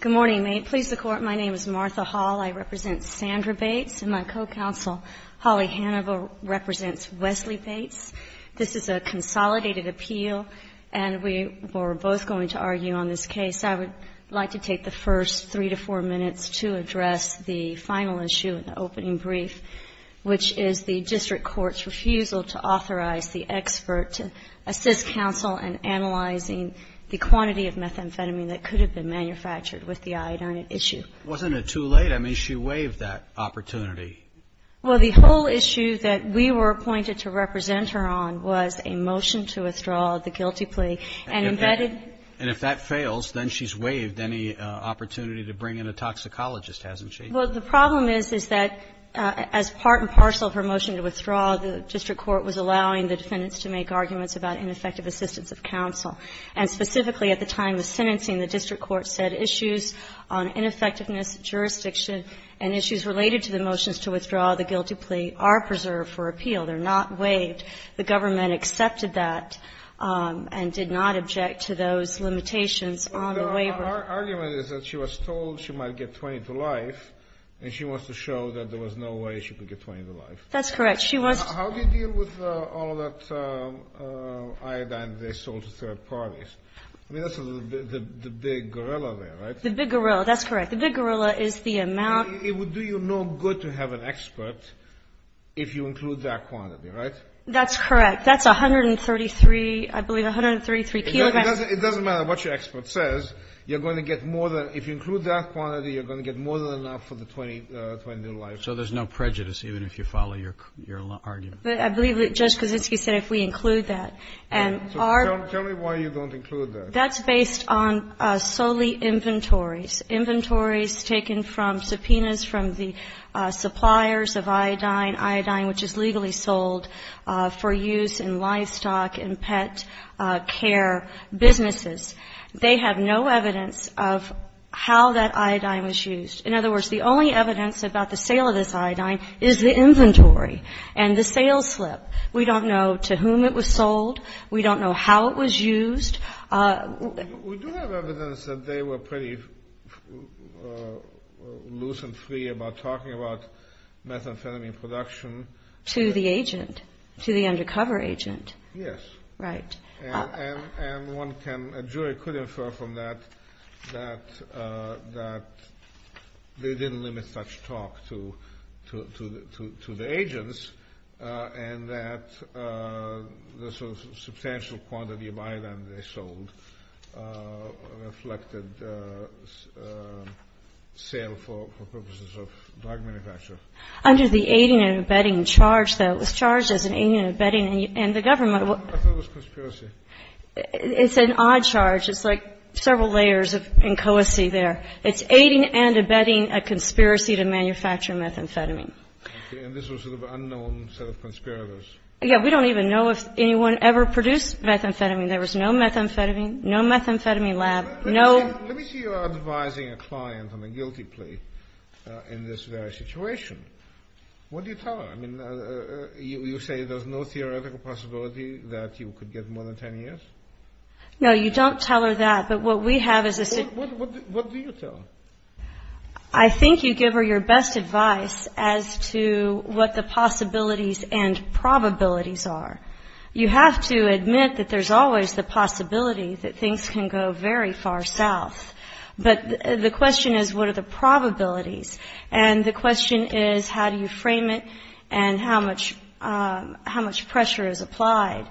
Good morning. May it please the Court, my name is Martha Hall. I represent Sandra Bates and my co-counsel, Holly Hannibal, represents Wesley Bates. This is a consolidated appeal and we were both going to argue on this case. I would like to take the first three to four minutes to address the final issue in the opening brief, which is the District Court's refusal to authorize the expert to assist counsel in analyzing the quantity of methamphetamine that could have been manufactured with the iodine issue. Wasn't it too late? I mean, she waived that opportunity. Well, the whole issue that we were appointed to represent her on was a motion to withdraw the guilty plea and embedded... And if that fails, then she's waived any opportunity to bring in a toxicologist, hasn't she? Well, the problem is, is that as part and parcel of her motion to withdraw, the District Court was allowing the defendants to make arguments about ineffective assistance of counsel. And specifically at the time of sentencing, the District Court said issues on ineffectiveness, jurisdiction, and issues related to the motions to withdraw the guilty plea are preserved for appeal. They're not waived. The government accepted that and did not object to those limitations on the waiver. But our argument is that she was told she might get 20 to life, and she wants to show that there was no way she could get 20 to life. That's correct. She wants... How do you deal with all of that iodine they sold to third parties? I mean, that's the big gorilla there, right? The big gorilla, that's correct. The big gorilla is the amount... It would do you no good to have an expert if you include that quantity, right? That's correct. That's 133, I believe, 133 kilograms. It doesn't matter what your expert says. You're going to get more than, if you include that quantity, you're going to get more than enough for the 20 to life. So there's no prejudice, even if you follow your argument? I believe that Judge Kozinski said if we include that. Tell me why you don't include that. That's based on solely inventories, inventories taken from subpoenas from the suppliers of iodine, iodine which is legally sold for use in livestock and pet care businesses. They have no evidence of how that iodine was used. In other words, the only evidence about the sale of this iodine is the inventory and the sales slip. We don't know to whom it was sold. We don't know how it was used. We do have evidence that they were pretty loose and free about talking about methamphetamine production. To the agent? To the undercover agent? Yes. Right. And one jury could infer from that that they didn't limit such talk to the agents and that the sort of substantial quantity of iodine they sold reflected sale for purposes of dog manufacture. Under the aiding and abetting charge, though, it was charged as an aiding and abetting and the government I thought it was conspiracy. It's an odd charge. It's like several layers of inchoacy there. It's aiding and abetting a conspiracy to manufacture methamphetamine. Okay. And this was sort of an unknown set of conspirators. Yeah. We don't even know if anyone ever produced methamphetamine. There was no methamphetamine, no methamphetamine lab, no — Let me see you advising a client on a guilty plea in this very situation. What do you tell her? I mean, you say there's no theoretical possibility that you could get more than 10 years? No, you don't tell her that. But what we have is a — What do you tell her? I think you give her your best advice as to what the possibilities and probabilities are. You have to admit that there's always the possibility that things can go very far south. But the question is, what are the probabilities? And the question is, how do you frame it and how much — how much pressure is applied?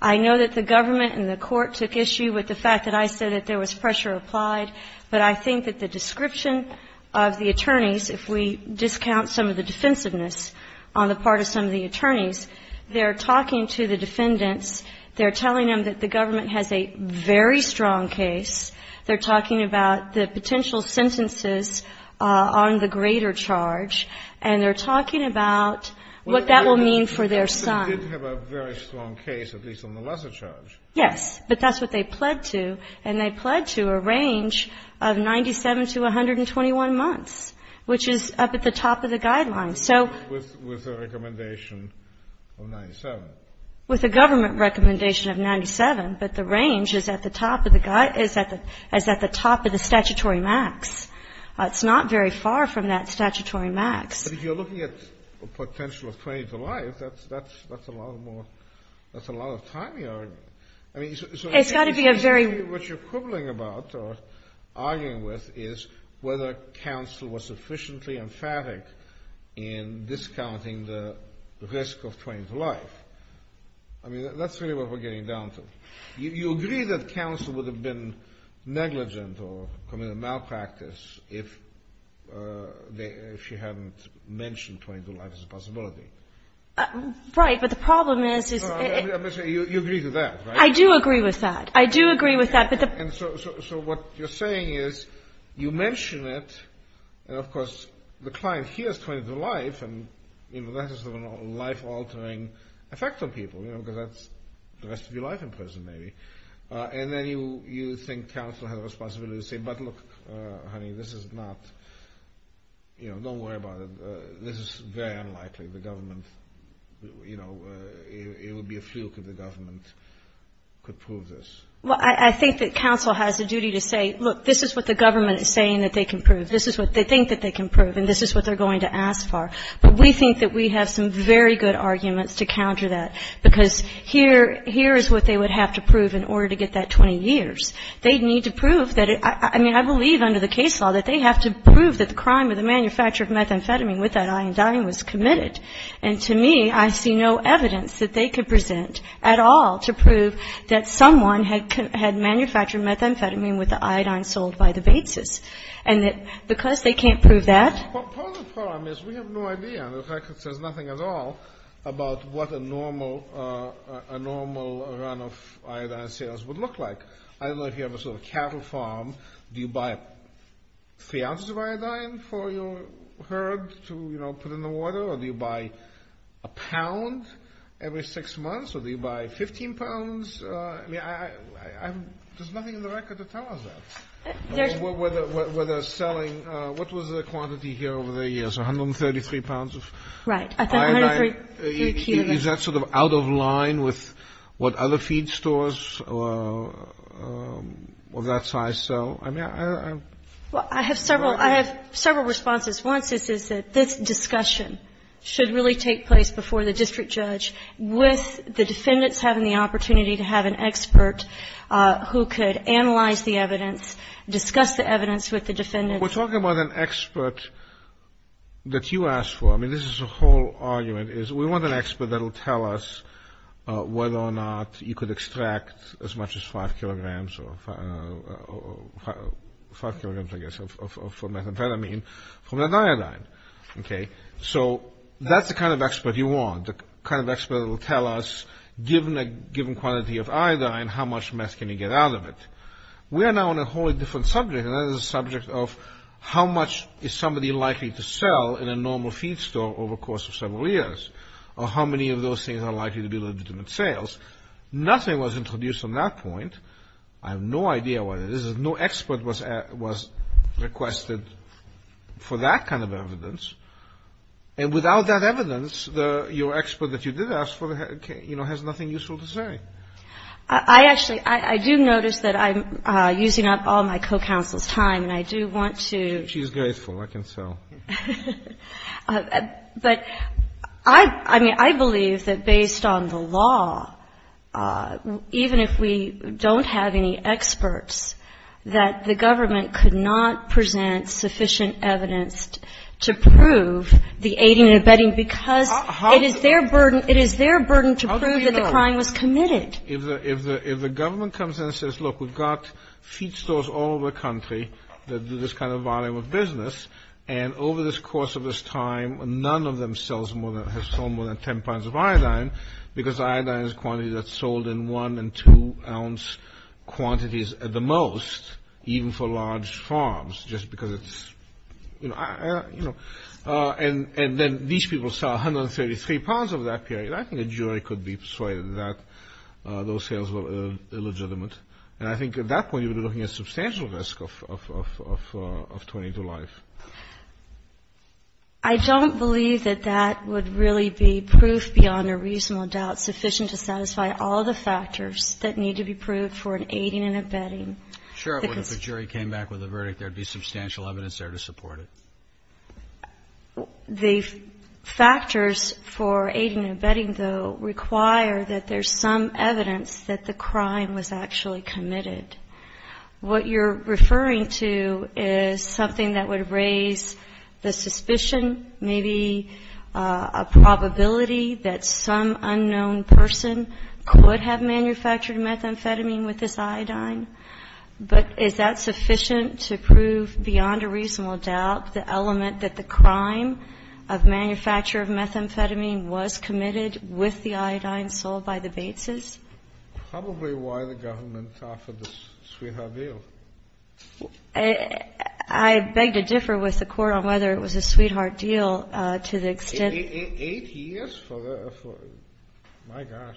I know that the government and the court took issue with the fact that I said that there was pressure applied, but I think that the description of the attorneys, if we discount some of the defensiveness on the part of some of the attorneys, they're talking to the defendants, they're telling them that the government has a very strong case, they're talking about the potential sentences on the greater charge, and they're talking about what that will mean for their son. They did have a very strong case, at least on the lesser charge. Yes, but that's what they pled to, and they pled to a range of 97 to 121 months, which is up at the top of the guidelines. So — With a recommendation of 97. With a government recommendation of 97, but the range is at the top of the — is at the top of the statutory max. It's not very far from that statutory max. But if you're looking at the potential of 20 to life, that's a lot more — that's a lot of time you're arguing. I mean, so — It's got to be a very — What you're quibbling about or arguing with is whether counsel was sufficiently emphatic in discounting the risk of 20 to life. I mean, that's really what we're getting down to. You agree that counsel would have been negligent or committed a malpractice if they — if she hadn't mentioned 20 to life as a possibility. Right, but the problem is — You agree with that, right? I do agree with that. I do agree with that. And so what you're saying is you mention it, and, of course, the client hears 20 to life, and that has a life-altering effect on people, you know, because that's the rest of your life in prison, maybe. And then you think counsel has a responsibility to say, but look, honey, this is not — you know, don't worry about it. This is very unlikely. The government — you know, it would be a fluke if the government could prove this. Well, I think that counsel has a duty to say, look, this is what the government is saying that they can prove. This is what they think that they can prove, and this is what they're going to ask for. But we think that we have some very good arguments to counter that, because here is what they would have to prove in order to get that 20 years. They need to prove that — I mean, I believe under the case law that they have to prove that the crime of the manufacture of methamphetamine with that iodine was committed. And to me, I see no evidence that they could present at all to prove that someone had manufactured methamphetamine with the iodine sold by the Bateses. And that because they can't prove that — Part of the problem is we have no idea. In fact, there's nothing at all about what a normal run of iodine sales would look like. I don't know if you have a sort of cattle farm. Do you buy three ounces of iodine for your herd to, you know, put in the water? Or do you buy a pound every six months? Or do you buy 15 pounds? I mean, I haven't — there's nothing in the record to tell us that. Whether selling — what was the quantity here over the years, 133 pounds of iodine? Right. I think 133 cubic. Is that sort of out of line with what other feed stores of that size sell? I mean, I'm — Well, I have several — I have several responses. One is that this discussion should really take place before the district judge, with the defendants having the opportunity to have an expert who could analyze the evidence, discuss the evidence with the defendants. We're talking about an expert that you asked for. I mean, this is a whole argument is we want an expert that will tell us whether or not you could extract as much as 5 kilograms or 5 kilograms, I guess, of methamphetamine from the iodine. Okay? So that's the kind of expert you want. The kind of expert that will tell us, given a given quantity of iodine, how much meth can you get out of it. We are now on a wholly different subject, and that is the subject of how much is somebody likely to sell in a normal feed store over the course of several years, or how many of those things are likely to be legitimate sales. Nothing was introduced on that point. I have no idea what it is. No expert was requested for that kind of evidence. And without that evidence, your expert that you did ask for, you know, has nothing useful to say. I actually, I do notice that I'm using up all my co-counsel's time, and I do want to. She's grateful. I can tell. But I, I mean, I believe that based on the law, even if we don't have any experts, that the government could not present sufficient evidence to prove the aiding and abetting, because it is their burden, it is their burden to prove that the crime was committed. If the government comes in and says, look, we've got feed stores all over the country that do this kind of volume of business, and over the course of this time, none of them have sold more than 10 pounds of iodine, because iodine is a quantity that's sold in one- and two-ounce quantities at the most, even for large farms, just because it's, you know. And then these people sell 133 pounds over that period. I think a jury could be persuaded that those sales were illegitimate. And I think at that point, you would be looking at substantial risk of turning to life. I don't believe that that would really be proof beyond a reasonable doubt sufficient to satisfy all the factors that need to be proved for an aiding and abetting. Sure. If a jury came back with a verdict, there would be substantial evidence there to support it. The factors for aiding and abetting, though, require that there's some evidence that the crime was actually committed. What you're referring to is something that would raise the suspicion, maybe a probability that some unknown person could have manufactured methamphetamine with this iodine. But is that sufficient to prove beyond a reasonable doubt the element that the crime of manufacture of methamphetamine was committed with the iodine sold by the Bateses? Probably why the government offered the sweetheart deal. I beg to differ with the Court on whether it was a sweetheart deal to the extent of the ---- Eight years for the ---- my gosh.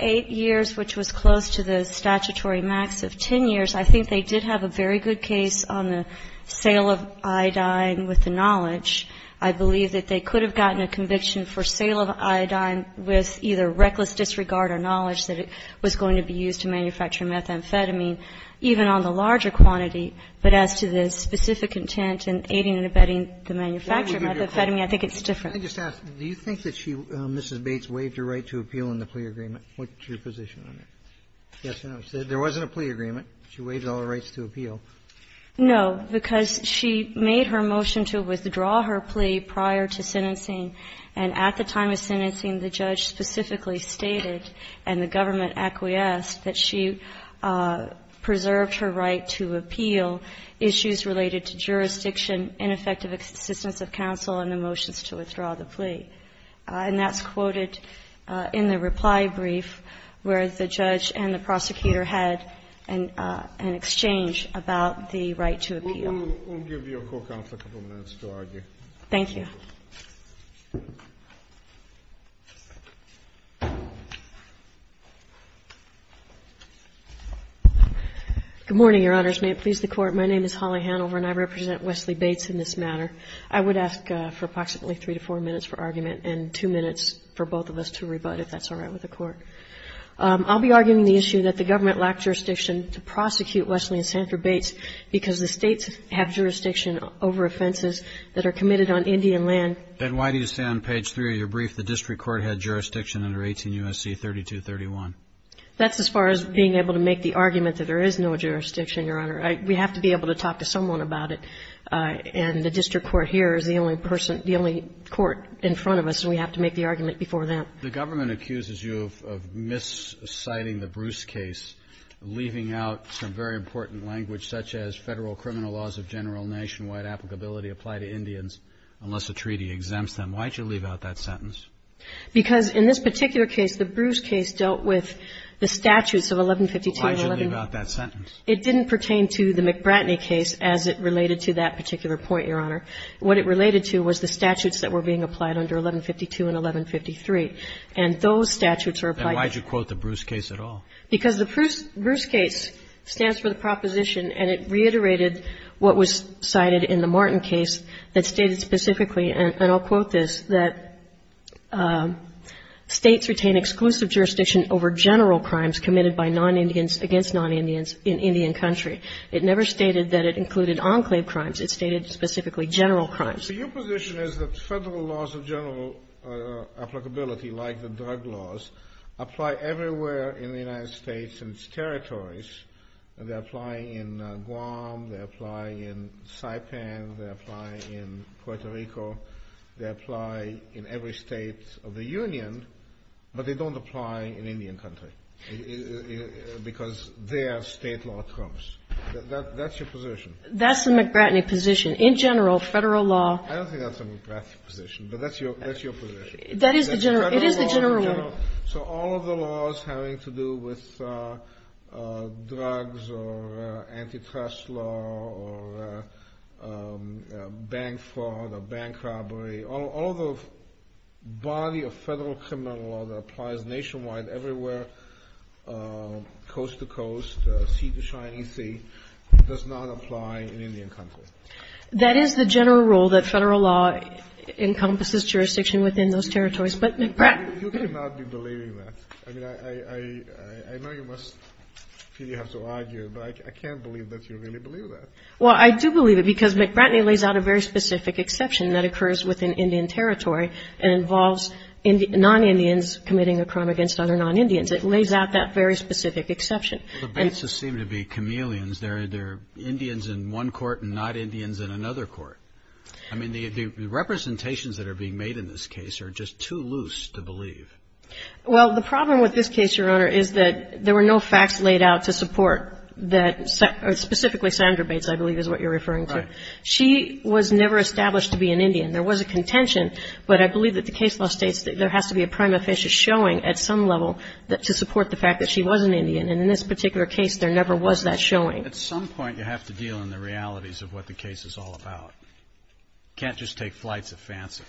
Eight years, which was close to the statutory max of 10 years. I think they did have a very good case on the sale of iodine with the knowledge. I believe that they could have gotten a conviction for sale of iodine with either reckless disregard or knowledge that it was going to be used to manufacture methamphetamine, even on the larger quantity. But as to the specific intent in aiding and abetting the manufacture of methamphetamine, I think it's different. I just ask, do you think that she, Mrs. Bates, waived her right to appeal in the plea agreement? What's your position on it? Yes or no? She said there wasn't a plea agreement. She waived all the rights to appeal. No, because she made her motion to withdraw her plea prior to sentencing, and at the time of sentencing, the judge specifically stated and the government acquiesced that she preserved her right to appeal issues related to jurisdiction, ineffective assistance of counsel and the motions to withdraw the plea. And that's quoted in the reply brief where the judge and the prosecutor had an exchange about the right to appeal. We'll give you a couple of minutes to argue. Thank you. Good morning, Your Honors. May it please the Court. My name is Holly Hanover, and I represent Wesley Bates in this matter. I would ask for approximately 3 to 4 minutes for argument and 2 minutes for both of us to rebut, if that's all right with the Court. I'll be arguing the issue that the government lacked jurisdiction to prosecute Wesley and Sanford Bates because the States have jurisdiction over offenses that are committed on Indian land. And why do you say on page 3 of your brief the district court had jurisdiction under 18 U.S.C. 3231? That's as far as being able to make the argument that there is no jurisdiction, Your Honor. We have to be able to talk to someone about it, and the district court here is the only person, the only court in front of us, and we have to make the argument before them. The government accuses you of misciting the Bruce case, leaving out some very important language such as Federal criminal laws of general nationwide applicability apply to Indians unless a treaty exempts them. Why did you leave out that sentence? Because in this particular case, the Bruce case dealt with the statutes of 1152 and 1153. Why did you leave out that sentence? It didn't pertain to the McBratney case as it related to that particular point, Your Honor. What it related to was the statutes that were being applied under 1152 and 1153. And those statutes are applied to you. And why did you quote the Bruce case at all? Because the Bruce case stands for the proposition, and it reiterated what was cited in the Martin case that stated specifically, and I'll quote this, that States retain exclusive jurisdiction over general crimes committed by non-Indians against non-Indians in Indian country. It never stated that it included enclave crimes. It stated specifically general crimes. So your position is that Federal laws of general applicability, like the drug laws, apply everywhere in the United States and its territories, and they're applying in Guam, they're applying in Saipan, they're applying in Puerto Rico, they apply in every State of the Union, but they don't apply in Indian country because their State law comes. That's your position? That's the McBratney position. In general, Federal law. I don't think that's the McBratney position, but that's your position. That is the general one. It is the general one. So all of the laws having to do with drugs or antitrust law or bank fraud or bank robbery, all of the body of Federal criminal law that applies nationwide everywhere, coast-to-coast, sea-to-shiny-sea, does not apply in Indian country. That is the general rule that Federal law encompasses jurisdiction within those territories. But McBratney ---- You cannot be believing that. I mean, I know you must feel you have to argue, but I can't believe that you really believe that. Well, I do believe it because McBratney lays out a very specific exception that occurs within Indian territory and involves non-Indians committing a crime against other non-Indians. It lays out that very specific exception. Well, the Bateses seem to be chameleons. They're Indians in one court and not Indians in another court. I mean, the representations that are being made in this case are just too loose to believe. Well, the problem with this case, Your Honor, is that there were no facts laid out to support that specifically Sandra Bates, I believe, is what you're referring to. Right. She was never established to be an Indian. There was a contention, but I believe that the case law states that there has to be a crime offense showing at some level to support the fact that she was an Indian. And in this particular case, there never was that showing. At some point, you have to deal in the realities of what the case is all about. You can't just take flights of fancy.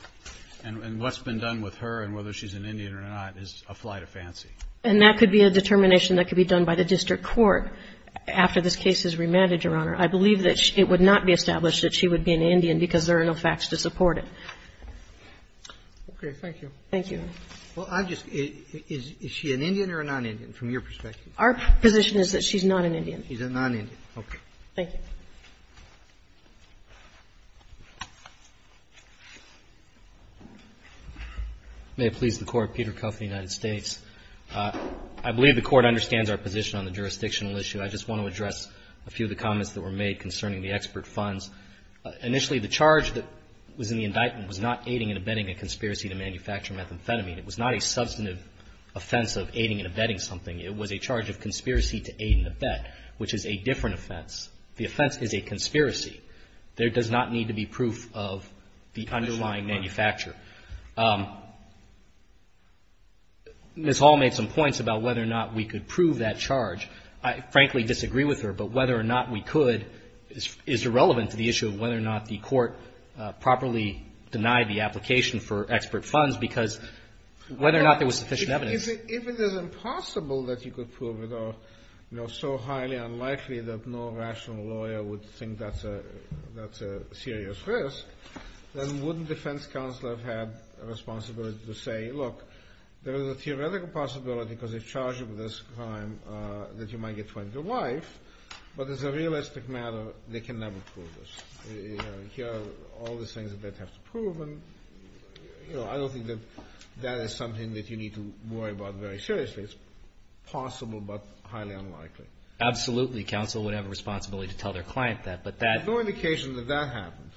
And what's been done with her and whether she's an Indian or not is a flight of fancy. And that could be a determination that could be done by the district court after this case is remanded, Your Honor. I believe that it would not be established that she would be an Indian because there are no facts to support it. Okay. Thank you. Thank you. Well, I'm just questioning, is she an Indian or a non-Indian, from your perspective? Our position is that she's not an Indian. She's a non-Indian. Okay. Thank you. May it please the Court. Peter Kuff of the United States. I believe the Court understands our position on the jurisdictional issue. I just want to address a few of the comments that were made concerning the expert funds. Initially, the charge that was in the indictment was not aiding and abetting a conspiracy to manufacture methamphetamine. It was not a substantive offense of aiding and abetting something. It was a charge of conspiracy to aid and abet, which is a different offense. The offense is a conspiracy. There does not need to be proof of the underlying manufacture. Ms. Hall made some points about whether or not we could prove that charge. I frankly disagree with her, but whether or not we could is irrelevant to the issue of whether or not the Court properly denied the application for expert funds because whether or not there was sufficient evidence. If it is impossible that you could prove it or, you know, so highly unlikely that no rational lawyer would think that's a serious risk, then wouldn't defense counsel have had a responsibility to say, look, there is a theoretical possibility because they've charged you with this crime that you might get 20 to life, but as a lawyer, you know, here are all the things that have to prove, and, you know, I don't think that that is something that you need to worry about very seriously. It's possible, but highly unlikely. Absolutely, counsel would have a responsibility to tell their client that, but that There's no indication that that happened.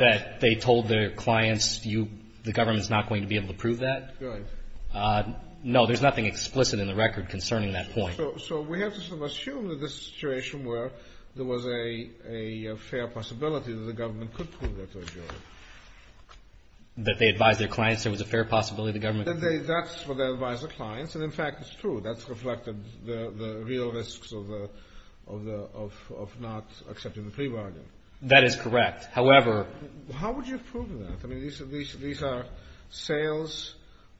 That they told their clients the government's not going to be able to prove that? Right. No, there's nothing explicit in the record concerning that point. So we have to sort of assume that this is a situation where there was a fair possibility that the government could prove that to a jury. That they advised their clients there was a fair possibility the government could prove it? That's what they advised their clients, and, in fact, it's true. That's reflected the real risks of not accepting the plea bargain. That is correct. However, How would you prove that? I mean, these are sales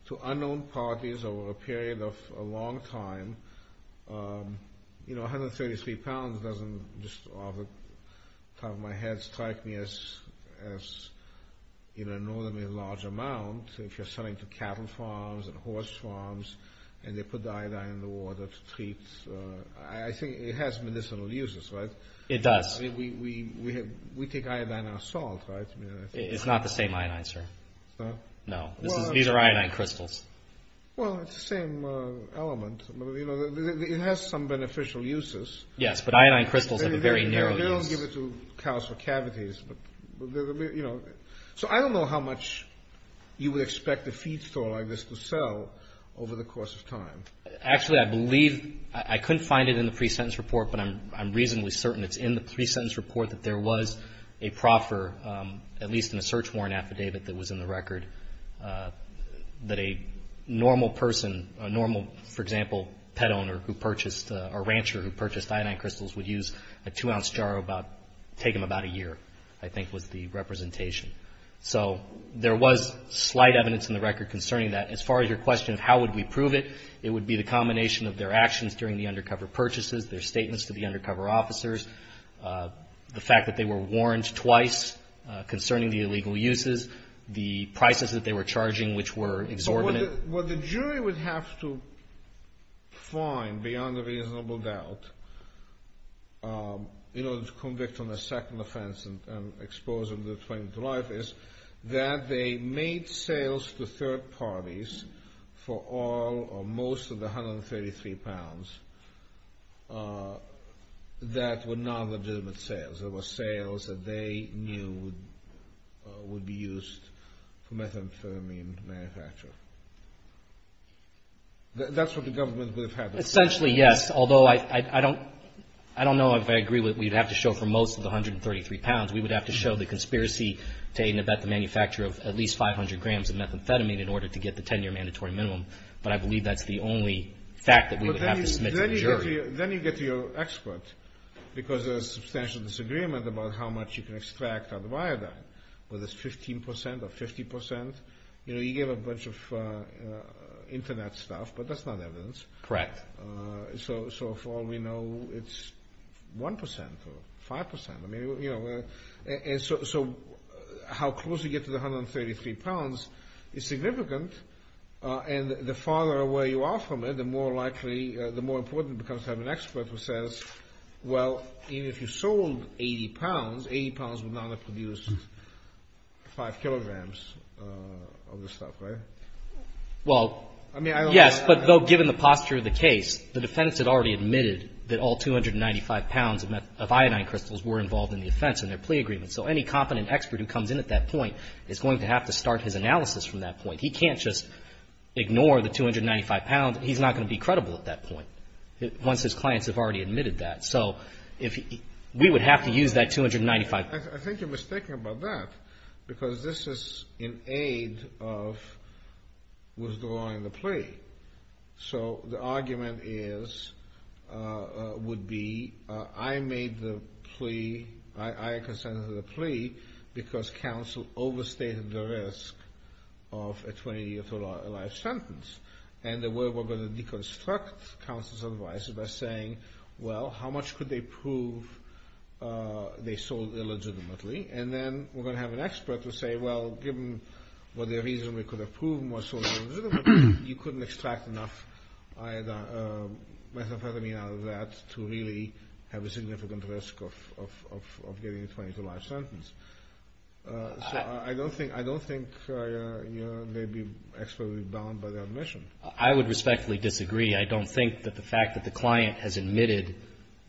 to unknown parties over a period of a long time. You know, 133 pounds doesn't just off the top of my head strike me as, you know, a large amount if you're selling to cattle farms and horse farms, and they put iodine in the water to treat. I think it has medicinal uses, right? It does. I mean, we take iodine out of salt, right? It's not the same iodine, sir. No? No. These are iodine crystals. Well, it's the same element. You know, it has some beneficial uses. Yes, but iodine crystals have a very narrow use. They don't give it to cows for cavities, but, you know. So I don't know how much you would expect a feed store like this to sell over the course of time. Actually, I believe, I couldn't find it in the pre-sentence report, but I'm reasonably certain it's in the pre-sentence report that there was a proffer, at least in a search warrant affidavit that was in the record, that a normal person, a normal, for example, pet owner who purchased, or rancher who purchased iodine crystals would use a two-ounce jar, take them about a year, I think was the representation. So there was slight evidence in the record concerning that. As far as your question of how would we prove it, it would be the combination of their actions during the undercover purchases, their statements to the undercover officers, the fact that they were warned twice concerning the illegal uses, the prices that they were charging which were exorbitant. What the jury would have to find beyond a reasonable doubt in order to convict on the second offense and expose them to the 20th of July is that they made sales to third parties for all or most of the 133 pounds that were non-legitimate sales. There were sales that they knew would be used for methamphetamine manufacture. That's what the government would have had to say. Essentially, yes, although I don't know if I agree that we'd have to show for most of the 133 pounds. We would have to show the conspiracy to aid and abet the manufacture of at least 500 grams of methamphetamine in order to get the 10-year mandatory minimum, but I believe that's the only fact that we would have to submit to the jury. Then you get to your expert because there's substantial disagreement about how much you can extract out of iodine, whether it's 15% or 50%. You gave a bunch of internet stuff, but that's not evidence. Correct. So far we know it's 1% or 5%. So how close you get to the 133 pounds is significant, and the farther away you are from it, the more likely, the more important it becomes to have an expert who says, well, even if you sold 80 pounds, 80 pounds would not have produced 5 kilograms of the stuff, right? Well, yes, but though given the posture of the case, the defense had already admitted that all 295 pounds of iodine crystals were involved in the offense in their plea agreement. So any competent expert who comes in at that point is going to have to start his analysis from that point. He can't just ignore the 295 pounds. He's not going to be credible at that point once his clients have already admitted that. So we would have to use that 295. I think you're mistaken about that because this is in aid of withdrawing the plea. So the argument is, would be, I made the plea, I consented to the plea, because counsel overstated the risk of a 20-year life sentence. And the way we're going to deconstruct counsel's advice is by saying, well, how much could they prove they sold illegitimately? And then we're going to have an expert who will say, well, given what the reason we could have proven was sold illegitimately, you couldn't extract enough methamphetamine out of that to really have a significant risk of getting a 20-year life sentence. So I don't think they'd be expertly bound by their admission. I would respectfully disagree. I don't think that the fact that the client has admitted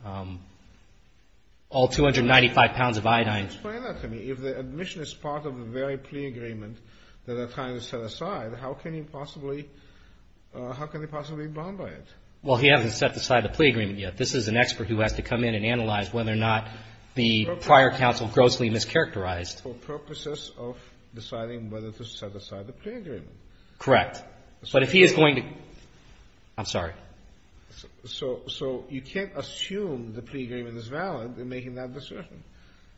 all 295 pounds of iodine. Explain that to me. If the admission is part of the very plea agreement that they're trying to set aside, how can you possibly, how can they possibly be bound by it? Well, he hasn't set aside the plea agreement yet. This is an expert who has to come in and analyze whether or not the prior counsel grossly mischaracterized. For purposes of deciding whether to set aside the plea agreement. Correct. But if he is going to, I'm sorry. So you can't assume the plea agreement is valid in making that assertion.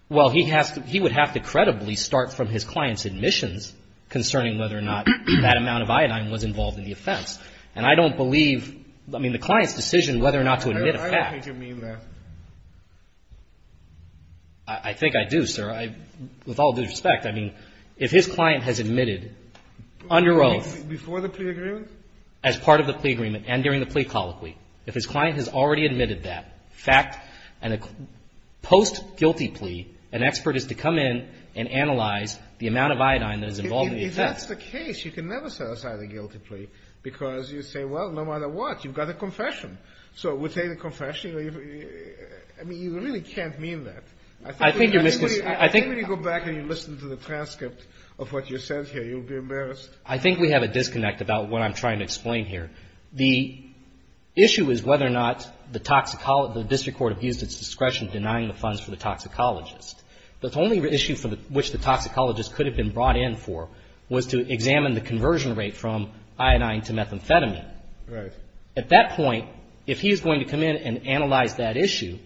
Well, he has to, he would have to credibly start from his client's admissions concerning whether or not that amount of iodine was involved in the offense. And I don't believe, I mean, the client's decision whether or not to admit a fact. I don't think you mean that. I think I do, sir. With all due respect, I mean, if his client has admitted under oath. Before the plea agreement? As part of the plea agreement and during the plea colloquy. If his client has already admitted that fact and a post-guilty plea, an expert is to come in and analyze the amount of iodine that is involved in the offense. If that's the case, you can never set aside a guilty plea because you say, well, no matter what, you've got a confession. So we'll take the confession. I mean, you really can't mean that. I think you're misunderstanding. I think when you go back and you listen to the transcript of what you said here, you'll be embarrassed. I think we have a disconnect about what I'm trying to explain here. The issue is whether or not the district court abused its discretion denying the funds for the toxicologist. The only issue for which the toxicologist could have been brought in for was to examine the conversion rate from iodine to methamphetamine. Right. At that point, if he's going to come in and analyze that issue,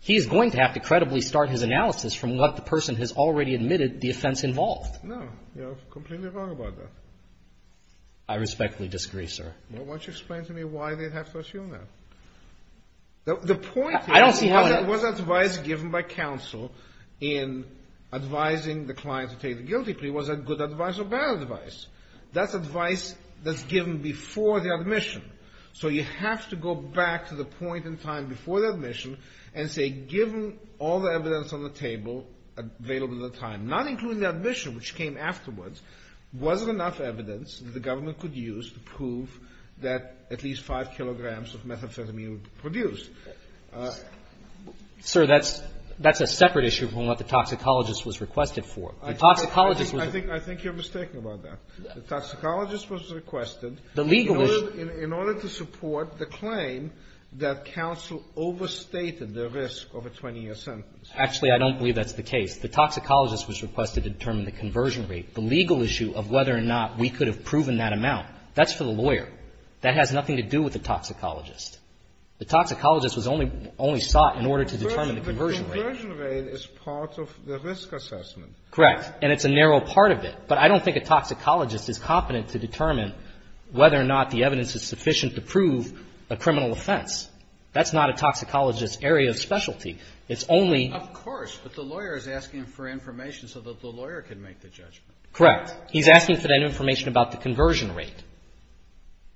he's going to have to credibly start his analysis from what the person has already admitted the offense involved. No. You're completely wrong about that. I respectfully disagree, sir. Well, why don't you explain to me why they'd have to assume that? The point is whether it was advice given by counsel in advising the client to take the guilty plea. Was that good advice or bad advice? That's advice that's given before the admission. So you have to go back to the point in time before the admission and say, given all the evidence on the table available at the time, not including the admission which came afterwards, was there enough evidence that the government could use to prove that at least 5 kilograms of methamphetamine would be produced? Sir, that's a separate issue from what the toxicologist was requested for. The toxicologist was the legal issue. I think you're mistaken about that. The toxicologist was requested in order to support the claim that counsel overstated the risk of a 20-year sentence. Actually, I don't believe that's the case. The toxicologist was requested to determine the conversion rate. The legal issue of whether or not we could have proven that amount, that's for the lawyer. That has nothing to do with the toxicologist. The toxicologist was only sought in order to determine the conversion rate. The conversion rate is part of the risk assessment. Correct. And it's a narrow part of it. But I don't think a toxicologist is competent to determine whether or not the evidence is sufficient to prove a criminal offense. That's not a toxicologist's area of specialty. It's only — Of course. But the lawyer is asking for information so that the lawyer can make the judgment. Correct. He's asking for that information about the conversion rate.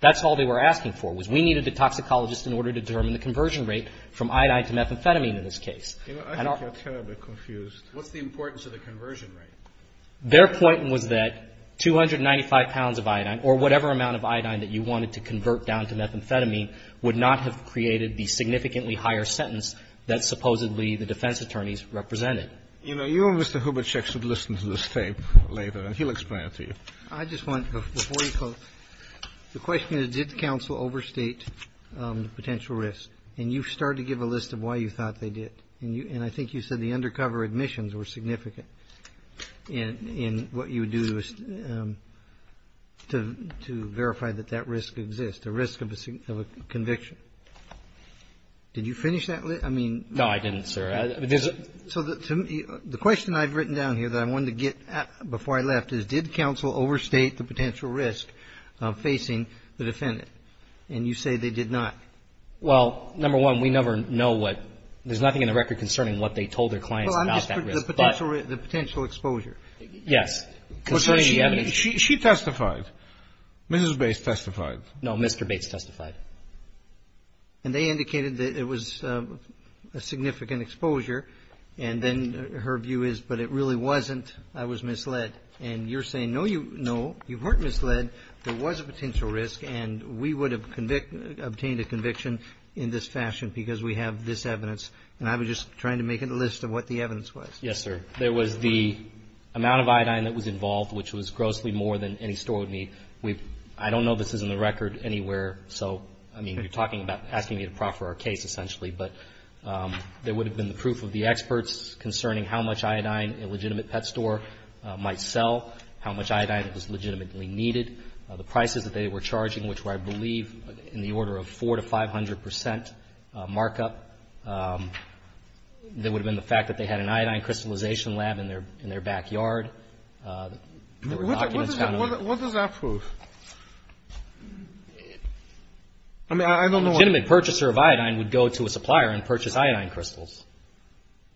That's all they were asking for was we needed a toxicologist in order to determine the conversion rate from iodine to methamphetamine in this case. I think you're terribly confused. What's the importance of the conversion rate? Their point was that 295 pounds of iodine or whatever amount of iodine that you wanted to convert down to methamphetamine would not have created the significantly higher sentence that supposedly the defense attorneys represented. You know, you and Mr. Hubachek should listen to this tape later, and he'll explain it to you. I just want to, before you close, the question is, did the counsel overstate the potential risk? And you started to give a list of why you thought they did. And I think you said the undercover admissions were significant in what you would do to verify that that risk exists, a risk of a conviction. Did you finish that list? I mean no. No, I didn't, sir. So the question I've written down here that I wanted to get at before I left is, did counsel overstate the potential risk facing the defendant? And you say they did not. Well, number one, we never know what, there's nothing in the record concerning what they told their clients about that risk. Well, I'm just, the potential exposure. Yes. She testified. Mrs. Bates testified. No, Mr. Bates testified. And they indicated that it was a significant exposure, and then her view is, but it really wasn't, I was misled. And you're saying, no, you weren't misled, there was a potential risk, and we would have obtained a conviction in this fashion because we have this evidence. And I was just trying to make a list of what the evidence was. Yes, sir. There was the amount of iodine that was involved, which was grossly more than any store would need. We've, I don't know this is in the record anywhere, so, I mean, you're talking about asking me to proffer our case, essentially, but there would have been the proof of the experts concerning how much iodine a legitimate pet store might sell, how much iodine was legitimately needed, the prices that they were charging, which were, I believe, in the order of 400 to 500 percent markup. There would have been the fact that they had an iodine crystallization lab in their backyard. What does that prove? I mean, I don't know. A legitimate purchaser of iodine would go to a supplier and purchase iodine crystals,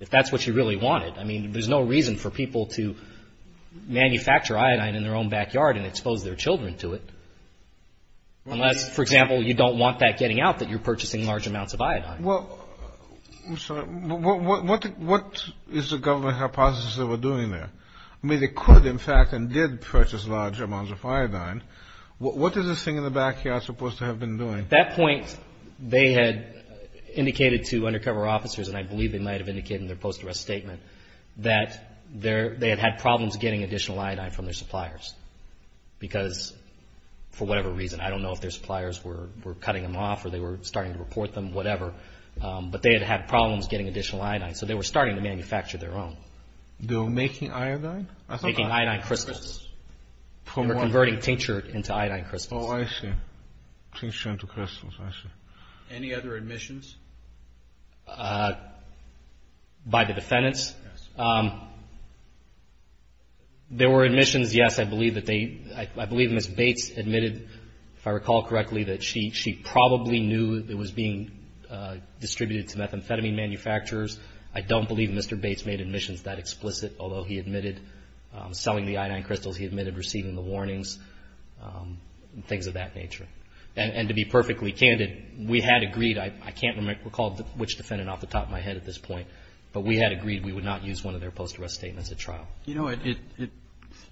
if that's what you really wanted. I mean, there's no reason for people to manufacture iodine in their own backyard and expose their children to it, unless, for example, you don't want that getting out that you're purchasing large amounts of iodine. Well, what is the government hypothesis they were doing there? I mean, they could, in fact, and did purchase large amounts of iodine. What is this thing in the backyard supposed to have been doing? At that point, they had indicated to undercover officers, and I believe they might have indicated in their post-arrest statement, that they had had problems getting additional iodine from their suppliers because, for whatever reason, I don't know if their suppliers were cutting them off or they were starting to report them, whatever, but they had had problems getting additional iodine. So, they were starting to manufacture their own. They were making iodine? Making iodine crystals. They were converting tincture into iodine crystals. Oh, I see. Tincture into crystals. I see. Any other admissions? By the defendants? Yes. There were admissions, yes. I believe Ms. Bates admitted, if I recall correctly, that she probably knew it was being distributed to methamphetamine manufacturers. I don't believe Mr. Bates made admissions that explicit, although he admitted selling the iodine crystals. He admitted receiving the warnings and things of that nature. And to be perfectly candid, we had agreed. I can't recall which defendant off the top of my head at this point, but we had agreed we would not use one of their post-arrest statements at trial. You know,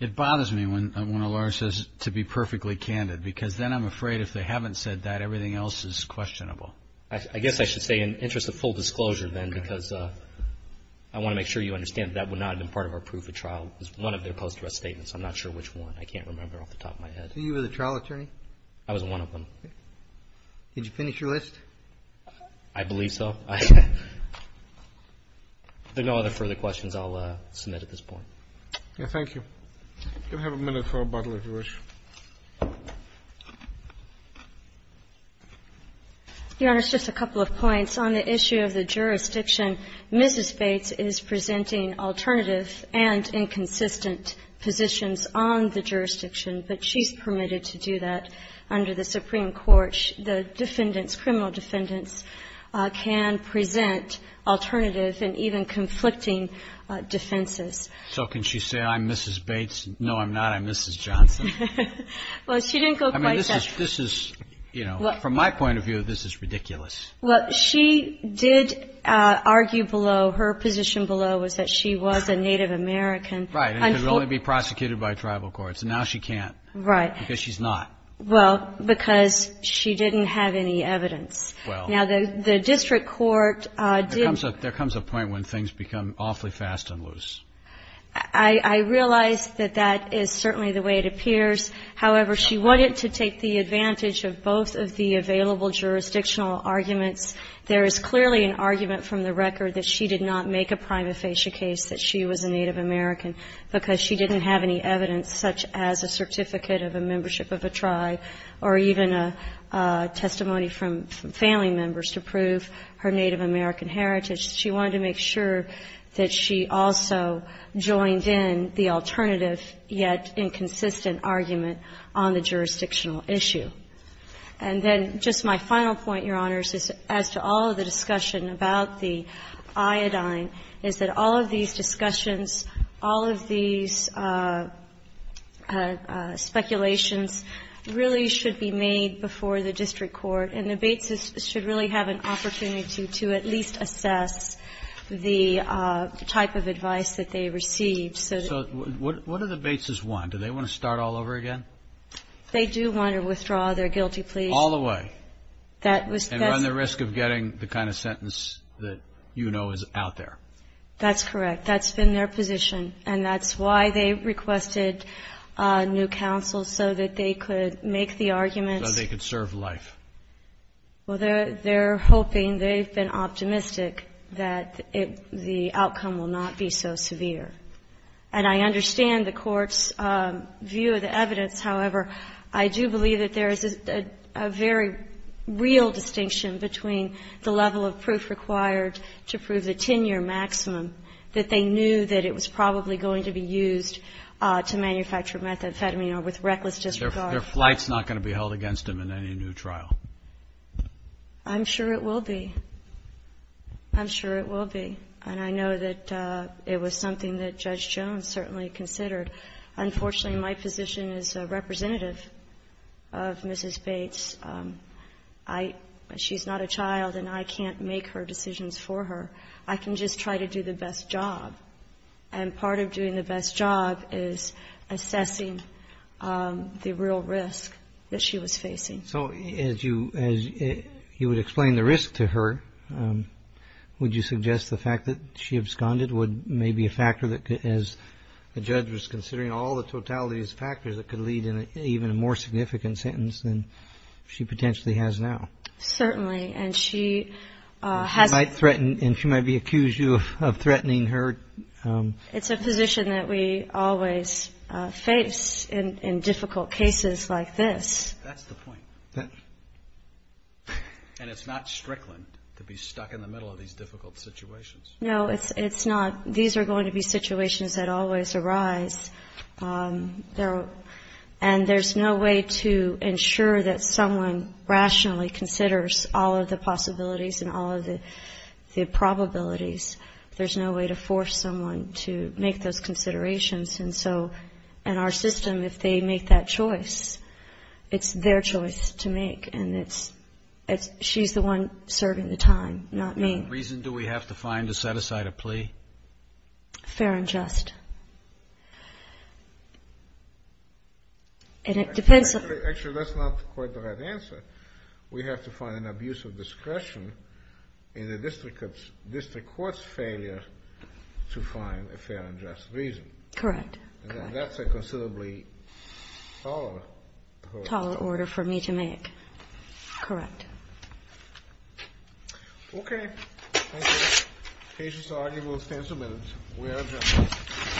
it bothers me when a lawyer says to be perfectly candid, because then I'm afraid if they haven't said that, everything else is questionable. I guess I should say in the interest of full disclosure then, because I want to make sure you understand that that would not have been part of our proof at trial, was one of their post-arrest statements. I'm not sure which one. I can't remember off the top of my head. Were you the trial attorney? I was one of them. Did you finish your list? I believe so. If there are no other further questions, I'll submit at this point. Thank you. You have a minute for rebuttal, if you wish. Your Honor, just a couple of points. On the issue of the jurisdiction, Mrs. Bates is presenting alternative and inconsistent positions on the jurisdiction, but she's permitted to do that. Under the Supreme Court, the defendants, criminal defendants, can present alternative and even conflicting defenses. So can she say, I'm Mrs. Bates? No, I'm not. I'm Mrs. Johnson. Well, she didn't go quite that far. I mean, this is, you know, from my point of view, this is ridiculous. Well, she did argue below. Her position below was that she was a Native American. Right. And could only be prosecuted by tribal courts. And now she can't. Right. Because she's not. Well, because she didn't have any evidence. Well. Now, the district court did. There comes a point when things become awfully fast and loose. I realize that that is certainly the way it appears. However, she wanted to take the advantage of both of the available jurisdictional arguments. There is clearly an argument from the record that she did not make a prima facie case that she was a Native American because she didn't have any evidence such as a membership of a tribe or even a testimony from family members to prove her Native American heritage. She wanted to make sure that she also joined in the alternative yet inconsistent argument on the jurisdictional issue. And then just my final point, Your Honors, as to all of the discussion about the district court and the Bateses should really have an opportunity to at least assess the type of advice that they received. So what do the Bateses want? Do they want to start all over again? They do want to withdraw their guilty plea. All the way. And run the risk of getting the kind of sentence that you know is out there. That's correct. That's been their position. And that's why they requested new counsel, so that they could make the arguments. So they could serve life. Well, they're hoping, they've been optimistic that the outcome will not be so severe. And I understand the Court's view of the evidence. However, I do believe that there is a very real distinction between the level of proof required to prove the 10-year maximum, that they knew that it was probably going to be used to manufacture methamphetamine or with reckless disregard. Their flight's not going to be held against them in any new trial. I'm sure it will be. I'm sure it will be. And I know that it was something that Judge Jones certainly considered. Unfortunately, my position is representative of Mrs. Bates. She's not a child, and I can't make her decisions for her. I can just try to do the best job. And part of doing the best job is assessing the real risk that she was facing. So as you would explain the risk to her, would you suggest the fact that she absconded would maybe be a factor that could, as the judge was considering all the totalities of factors, that could lead to even a more significant sentence than she potentially has now? Certainly. And she might be accused of threatening her. It's a position that we always face in difficult cases like this. That's the point. And it's not strickland to be stuck in the middle of these difficult situations. No, it's not. These are going to be situations that always arise. And there's no way to ensure that someone rationally considers all of the possibilities and all of the probabilities. There's no way to force someone to make those considerations. And so in our system, if they make that choice, it's their choice to make. And she's the one serving the time, not me. What reason do we have to find to set aside a plea? Fair and just. Actually, that's not quite the right answer. We have to find an abuse of discretion in the district court's failure to find a fair and just reason. Correct. And that's a considerably taller order for me to make. Correct. Okay. Thank you. The case is argued. We'll stand for a minute. We are adjourned.